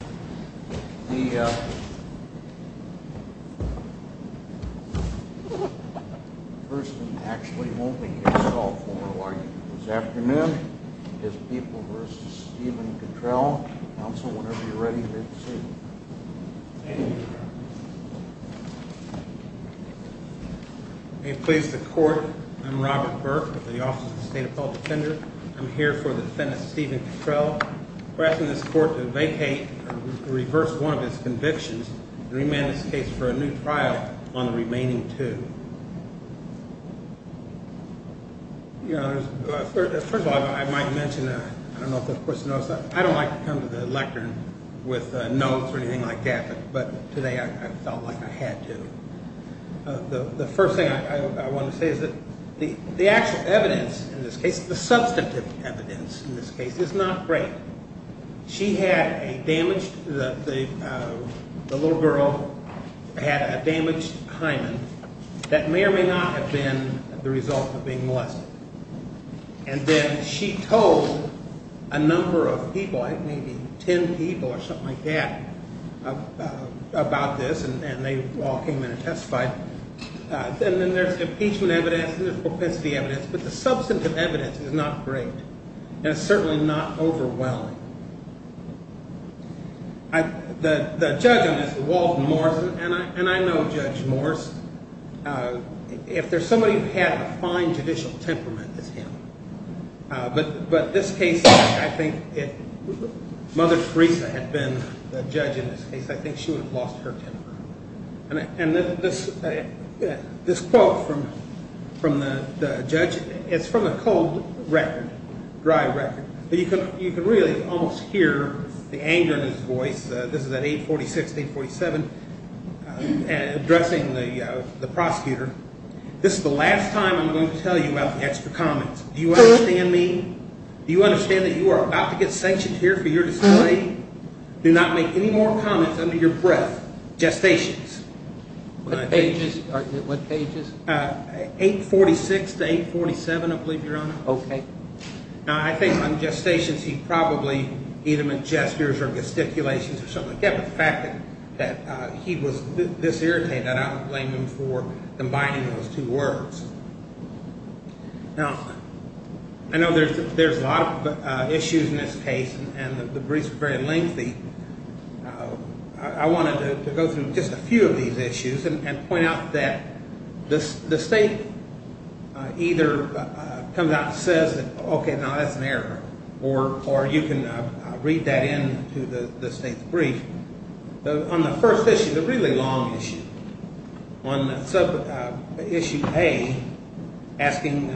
The person who actually won't be here to solve formal arguments this afternoon is People v. Steven Cuttrell. Counsel, whenever you're ready, let's see. May it please the Court, I'm Robert Burke with the Office of the State Appellate Defender. I'm here for the defendant, Steven Cuttrell. We're asking this Court to vacate or reverse one of its convictions and remand this case for a new trial on the remaining two. First of all, I might mention, I don't know if this person knows, I don't like to come to the lectern with notes or anything like that, but today I felt like I had to. The first thing I want to say is that the actual evidence in this case, the substantive evidence in this case, is not great. She had a damaged, the little girl had a damaged hymen that may or may not have been the result of being molested. And then she told a number of people, maybe ten people or something like that, about this and they all came in and testified. And then there's impeachment evidence and there's propensity evidence, but the substantive evidence is not great. And it's certainly not overwhelming. The judge on this, Walton Morris, and I know Judge Morris, if there's somebody who had a fine judicial temperament, it's him. But this case, I think if Mother Teresa had been the judge in this case, I think she would have lost her temper. And this quote from the judge, it's from a cold record, dry record, but you can really almost hear the anger in his voice. This is at 846, 847, addressing the prosecutor. This is the last time I'm going to tell you about the extra comments. Do you understand me? Do you understand that you are about to get sanctioned here for your display? Do not make any more comments under your breath. Gestations. What pages? 846 to 847, I believe, Your Honor. Okay. Now, I think on gestations he probably either meant gestures or gesticulations or something like that. But the fact that he was this irritated, I don't blame him for combining those two words. Now, I know there's a lot of issues in this case, and the briefs are very lengthy. I wanted to go through just a few of these issues and point out that the state either comes out and says, okay, now that's an error, or you can read that into the state's brief. On the first issue, the really long issue, on issue A, asking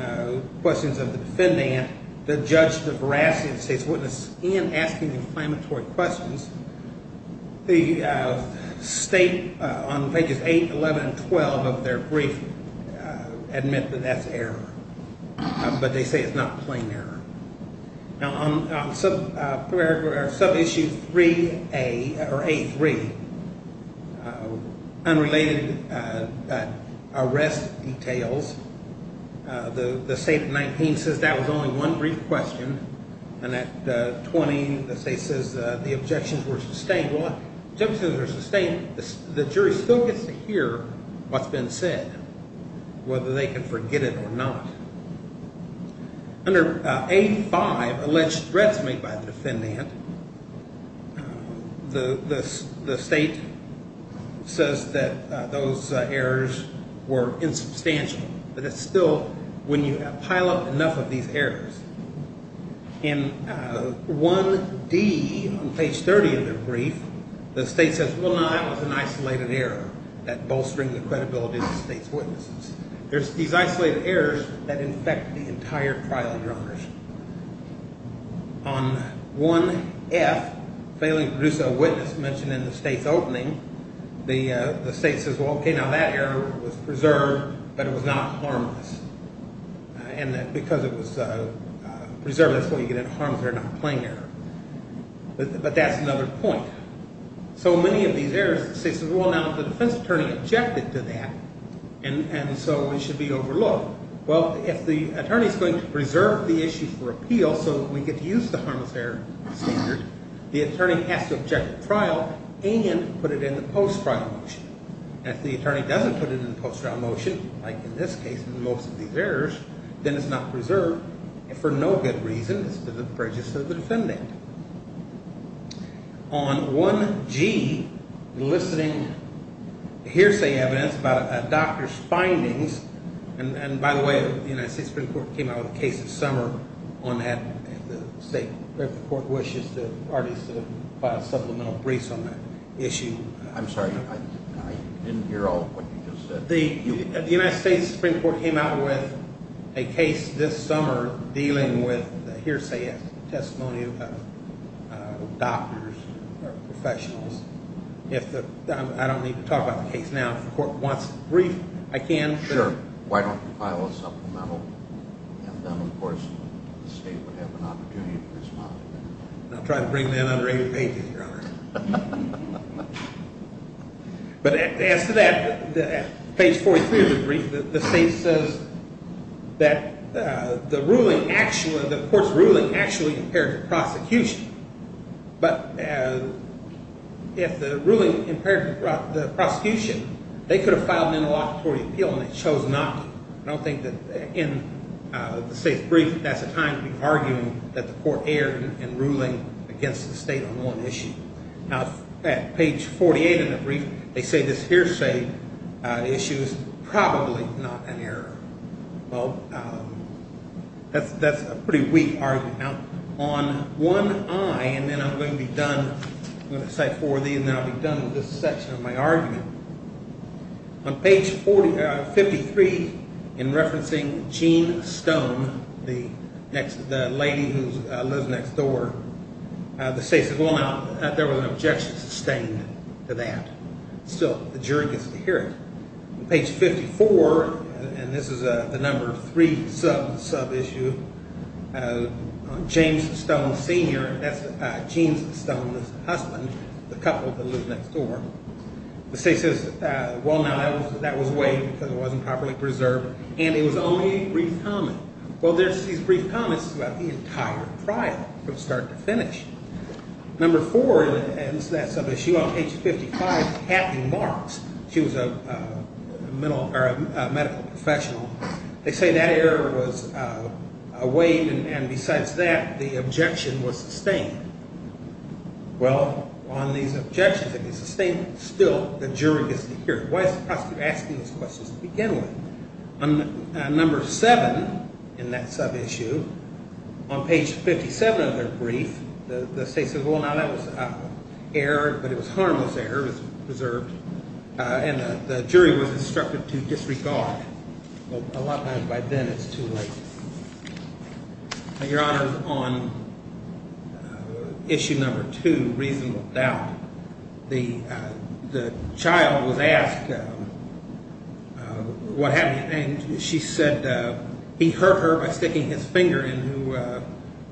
questions of the defendant, the judge, the veracity of the state's witness, in asking the inflammatory questions, the state on pages 8, 11, and 12 of their brief admit that that's error. But they say it's not plain error. Now, on sub-issue 3A or A3, unrelated arrest details, the state of 19 says that was only one brief question, and at 20 the state says the objections were sustained. Well, the objections were sustained. The jury still gets to hear what's been said, whether they can forget it or not. Under A5, alleged threats made by the defendant, the state says that those errors were insubstantial, but it's still when you pile up enough of these errors. In 1D, on page 30 of their brief, the state says, well, no, that was an isolated error, that bolstering the credibility of the state's witnesses. There's these isolated errors that infect the entire trial of your honors. On 1F, failing to produce a witness mentioned in the state's opening, the state says, well, okay, now that error was preserved, but it was not harmless. And because it was preserved, that's what you get in harm's way, not plain error. But that's another point. So many of these errors, the state says, well, now if the defense attorney objected to that and so it should be overlooked, well, if the attorney is going to preserve the issue for appeal so that we get to use the harmless error standard, the attorney has to object at trial and put it in the post-trial motion. And if the attorney doesn't put it in the post-trial motion, like in this case in most of these errors, then it's not preserved, and for no good reason. It's to the prejudice of the defendant. On 1G, eliciting hearsay evidence about a doctor's findings, and by the way, the United States Supreme Court came out with a case this summer on that. The state court wishes to file a supplemental briefs on that issue. I'm sorry, I didn't hear all of what you just said. The United States Supreme Court came out with a case this summer dealing with hearsay testimony to doctors or professionals. I don't need to talk about the case now. If the court wants a brief, I can. Sure. Why don't you file a supplemental? And then, of course, the state would have an opportunity to respond. I'll try to bring that under 80 pages, Your Honor. But as to that, page 43 of the brief, the state says that the ruling actually, the ruling actually impaired the prosecution. But if the ruling impaired the prosecution, they could have filed an interlocutory appeal, and they chose not to. I don't think that in the state's brief that's a time to be arguing that the court erred in ruling against the state on one issue. Now, at page 48 in the brief, they say this hearsay issue is probably not an error. Well, that's a pretty weak argument. Now, on one eye, and then I'm going to cite four of these, and then I'll be done with this section of my argument. On page 53, in referencing Jean Stone, the lady who lives next door, the state says, well, now, there was an objection sustained to that. Still, the jury gets to hear it. Page 54, and this is the number three sub-issue, on James Stone, Sr. That's Jean Stone's husband, the couple that live next door. The state says, well, now, that was waived because it wasn't properly preserved, and it was only a brief comment. Well, there's these brief comments throughout the entire trial from start to finish. Number four, and this is that sub-issue on page 55, happy marks. She was a medical professional. They say that error was waived, and besides that, the objection was sustained. Well, on these objections that were sustained, still, the jury gets to hear it. Why is the prosecutor asking these questions to begin with? On number seven in that sub-issue, on page 57 of their brief, the state says, well, now, that was error, but it was harmless error. It was preserved, and the jury was instructed to disregard. A lot of times, by then, it's too late. Your Honor, on issue number two, reasonable doubt, the child was asked what happened. She said he hurt her by sticking his finger in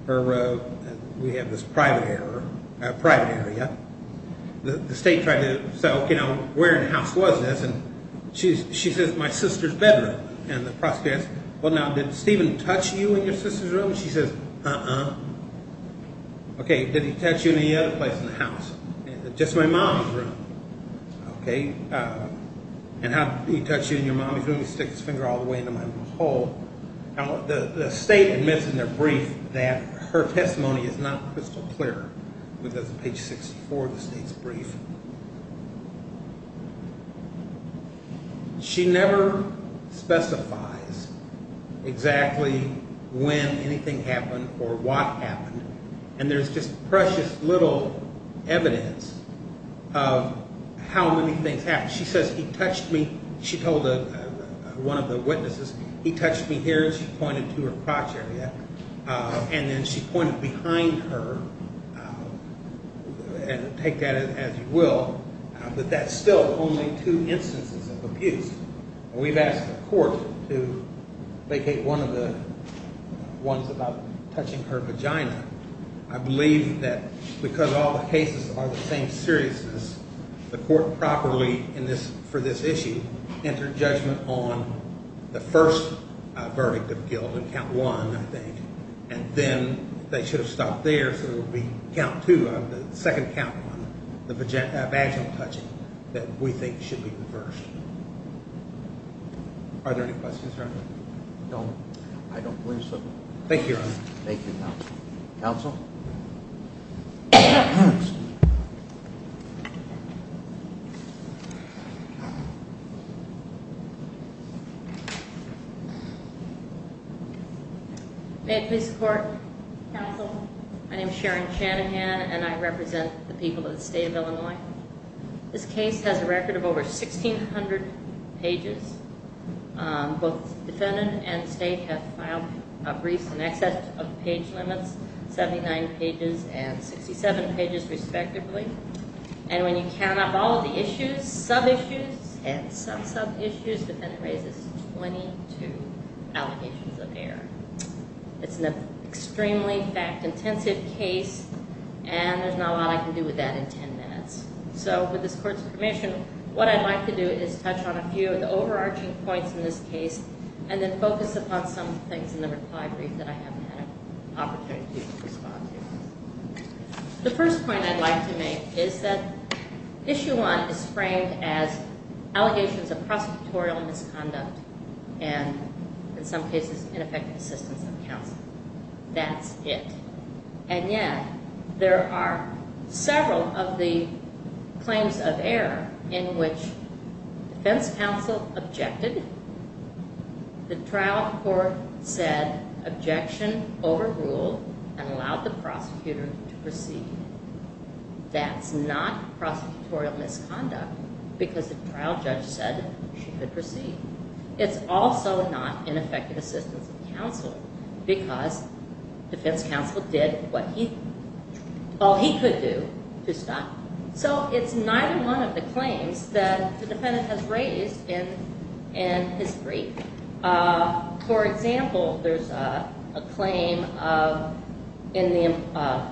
her private area. The state tried to say, okay, now, where in the house was this? She says, my sister's bedroom. And the prosecutor says, well, now, did Steven touch you in your sister's room? She says, uh-uh. Okay, did he touch you in any other place in the house? Just my mommy's room. Okay, and how did he touch you in your mommy's room? He sticks his finger all the way into my hole. Now, the state admits in their brief that her testimony is not crystal clear. That's page 64 of the state's brief. She never specifies exactly when anything happened or what happened, and there's just precious little evidence of how many things happened. She says, he touched me. She told one of the witnesses, he touched me here, and she pointed to her crotch area, and then she pointed behind her, and take that as you will, but that's still only two instances of abuse. We've asked the court to vacate one of the ones about touching her vagina. I believe that because all the cases are the same seriousness, the court properly, for this issue, entered judgment on the first verdict of guilt in count one, I think, and then they should have stopped there, so it would be count two of the second count, the vaginal touching that we think should be reversed. Are there any questions, Your Honor? No, I don't believe so. Thank you, Your Honor. Thank you, counsel. Counsel? May I have this court? Counsel? My name is Sharon Shanahan, and I represent the people of the state of Illinois. This case has a record of over 1,600 pages. Both defendant and state have filed briefs in excess of page limits, 79 pages and 67 pages respectively, and when you count up all of the issues, sub-issues and sub-sub-issues, the defendant raises 22 allegations of error. It's an extremely fact-intensive case, and there's not a lot I can do with that in 10 minutes. So with this court's permission, what I'd like to do is touch on a few of the overarching points in this case and then focus upon some things in the reply brief that I haven't had an opportunity to respond to. The first point I'd like to make is that issue one is framed as allegations of prosecutorial misconduct and, in some cases, ineffective assistance of counsel. That's it. And yet, there are several of the claims of error in which defense counsel objected, the trial court said objection overruled and allowed the prosecutor to proceed. That's not prosecutorial misconduct because the trial judge said she could proceed. It's also not ineffective assistance of counsel because defense counsel did all he could do to stop it. So it's neither one of the claims that the defendant has raised in his brief. For example, there's a claim in the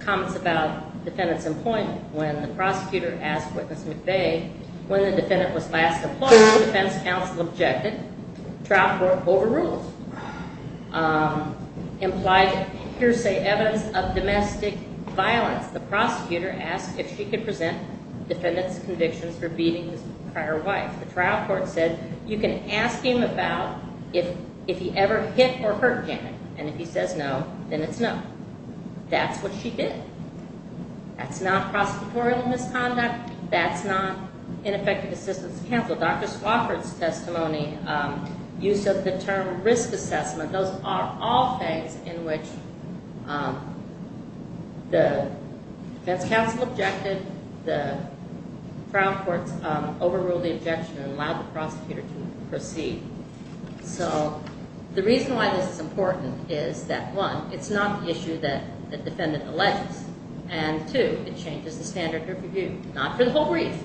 comments about defendant's employment. When the prosecutor asked Witness McVeigh when the defendant was last employed, defense counsel objected. Trial court overruled. Implied hearsay evidence of domestic violence, the prosecutor asked if she could present defendant's convictions for beating his prior wife. The trial court said you can ask him about if he ever hit or hurt Janet, and if he says no, then it's no. That's what she did. That's not prosecutorial misconduct. That's not ineffective assistance of counsel. Dr. Swofford's testimony, use of the term risk assessment, those are all things in which the defense counsel objected, the trial courts overruled the objection and allowed the prosecutor to proceed. So the reason why this is important is that, one, it's not the issue that the defendant alleges, and two, it changes the standard of review, not for the whole brief.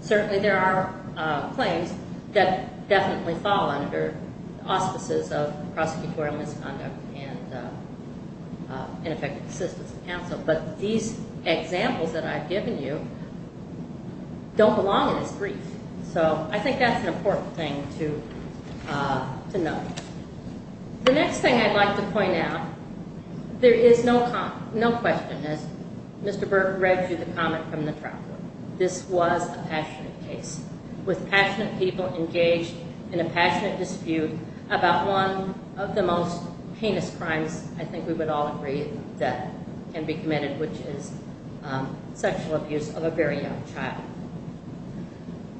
Certainly there are claims that definitely fall under auspices of prosecutorial misconduct and ineffective assistance of counsel, but these examples that I've given you don't belong in this brief. So I think that's an important thing to note. The next thing I'd like to point out, there is no question, as Mr. Burke read through the comment from the trial court, this was a passionate case with passionate people engaged in a passionate dispute about one of the most heinous crimes I think we would all agree that can be committed, which is sexual abuse of a very young child.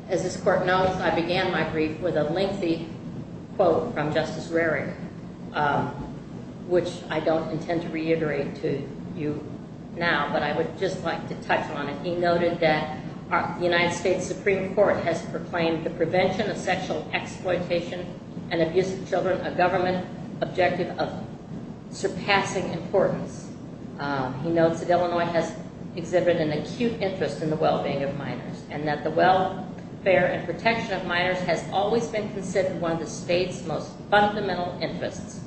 As this court knows, I began my brief with a lengthy quote from Justice Rarick, which I don't intend to reiterate to you now, but I would just like to touch on it. He noted that the United States Supreme Court has proclaimed the prevention of sexual exploitation and abuse of children a government objective of surpassing importance. He notes that Illinois has exhibited an acute interest in the well-being of minors and that the welfare and protection of minors has always been considered one of the state's most fundamental interests.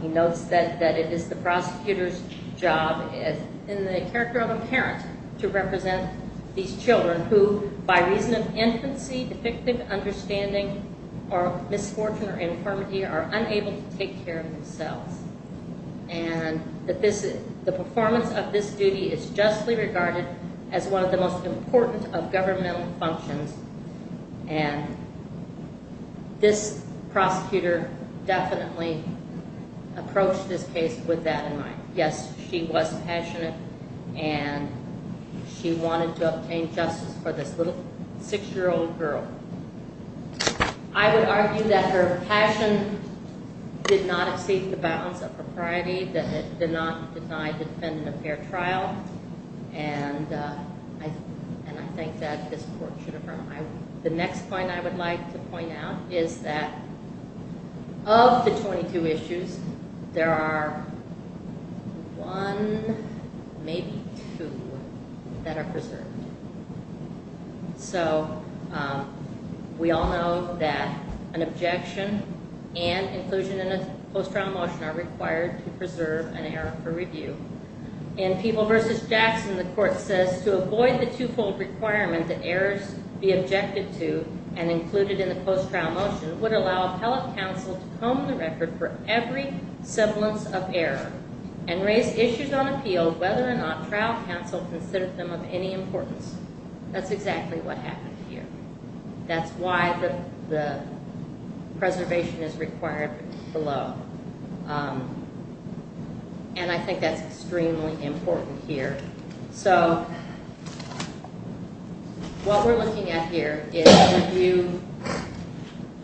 He notes that it is the prosecutor's job, in the character of a parent, to represent these children who, by reason of infancy, depictive understanding or misfortune or infirmity, are unable to take care of themselves and that the performance of this duty is justly regarded as one of the most important of governmental functions and this prosecutor definitely approached this case with that in mind. Yes, she was passionate and she wanted to obtain justice for this little six-year-old girl. I would argue that her passion did not exceed the bounds of propriety, that it did not deny the defendant a fair trial, and I think that this court should affirm. The next point I would like to point out is that of the 22 issues, there are one, maybe two, that are preserved. So we all know that an objection and inclusion in a post-trial motion are required to preserve an error for review. In People v. Jackson, the court says, to avoid the two-fold requirement that errors be objected to and included in the post-trial motion would allow appellate counsel to comb the record for every semblance of error and raise issues on appeal whether or not trial counsel considered them of any importance. That's exactly what happened here. That's why the preservation is required below. And I think that's extremely important here. So what we're looking at here is review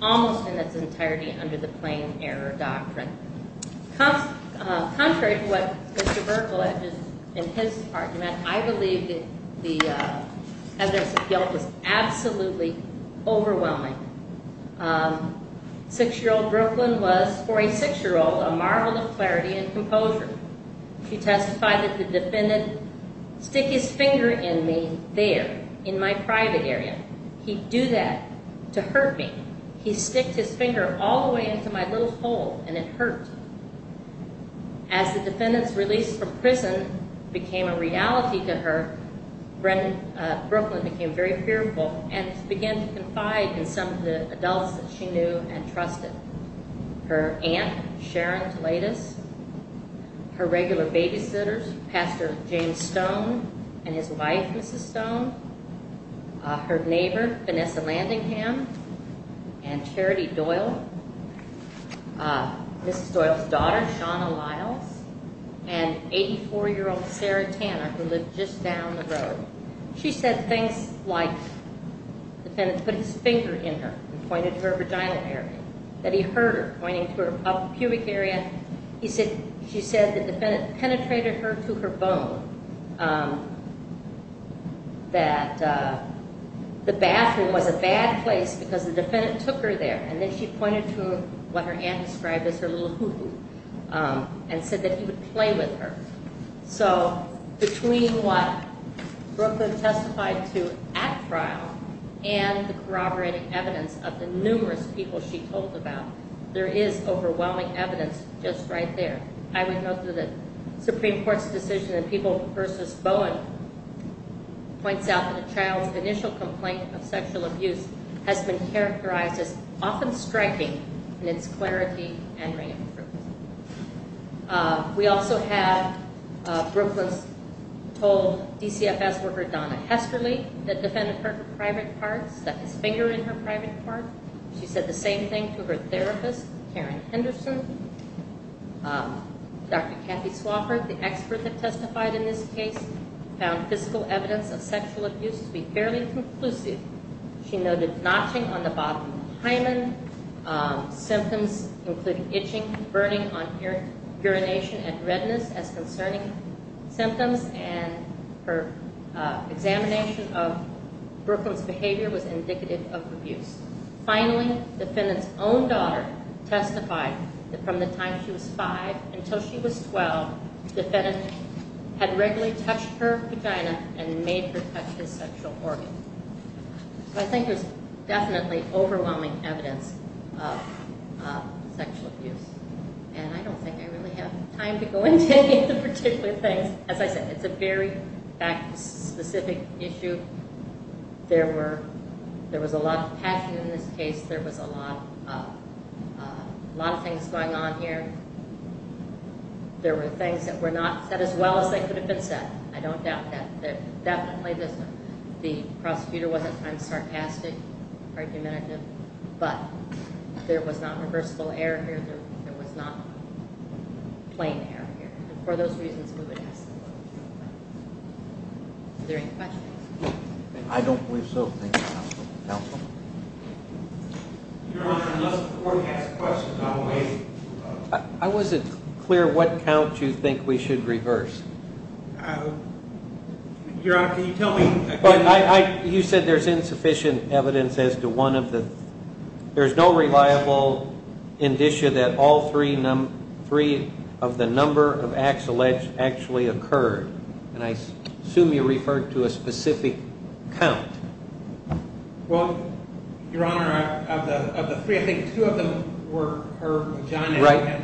almost in its entirety under the Plain Error Doctrine. Contrary to what Mr. Buerkle, in his argument, I believe that the evidence of guilt is absolutely overwhelming. Six-year-old Brooklyn was, for a six-year-old, a marvel of clarity and composure. She testified that the defendant stick his finger in me there, in my private area. He'd do that to hurt me. He sticked his finger all the way into my little hole, and it hurt. As the defendant's release from prison became a reality to her, Brooklyn became very fearful and began to confide in some of the adults that she knew and trusted. Her aunt, Sharon Toledis, her regular babysitters, Pastor James Stone and his wife, Mrs. Stone, her neighbor, Vanessa Landingham, and Charity Doyle, Mrs. Doyle's daughter, Shawna Lyles, and 84-year-old Sarah Tanner, who lived just down the road. She said things like the defendant put his finger in her and pointed to her vagina area, that he hurt her, pointing to her pubic area. She said the defendant penetrated her to her bone, that the bathroom was a bad place because the defendant took her there. And then she pointed to what her aunt described as her little hoo-hoo and said that he would play with her. So between what Brooklyn testified to at trial and the corroborating evidence of the numerous people she told about, there is overwhelming evidence just right there. I would note that the Supreme Court's decision in People v. Bowen points out that a child's initial complaint of sexual abuse has been characterized as often striking in its clarity and re-improvement. We also have Brooklyn's told DCFS worker Donna Hesterly, the defendant hurt her private parts, stuck his finger in her private part. She said the same thing to her therapist, Karen Henderson. Dr. Kathy Swofford, the expert that testified in this case, found physical evidence of sexual abuse to be fairly conclusive. She noted notching on the bottom of the hymen, symptoms including itching, burning on urination, and redness as concerning symptoms, and her examination of Brooklyn's behavior was indicative of abuse. Finally, the defendant's own daughter testified that from the time she was 5 until she was 12, the defendant had regularly touched her vagina and made her touch his sexual organ. So I think there's definitely overwhelming evidence of sexual abuse, and I don't think I really have time to go into any of the particular things. As I said, it's a very fact-specific issue. There was a lot of passion in this case. There was a lot of things going on here. There were things that were not said as well as they could have been said. I don't doubt that. Definitely the prosecutor was at times sarcastic, argumentative, but there was not reversible error here. There was not plain error here. And for those reasons, we would ask the court. Are there any questions? I don't believe so. Thank you, counsel. Your Honor, unless the court has questions, I will wait. I wasn't clear what count you think we should reverse. Your Honor, can you tell me? You said there's insufficient evidence as to one of the three. There's no reliable indicia that all three of the number of acts alleged actually occurred, and I assume you referred to a specific count. Well, Your Honor, of the three, I think two of them were her vagina. Right.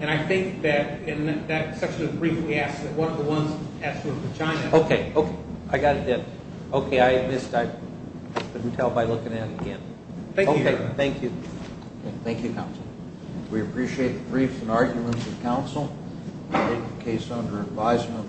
And I think that in that section of the brief, we asked that one of the ones has to have a vagina. Okay, okay. I got it then. Okay, I missed. I couldn't tell by looking at it again. Thank you, Your Honor. Okay, thank you. Thank you, counsel. We appreciate the briefs and arguments of counsel. Case under advisement.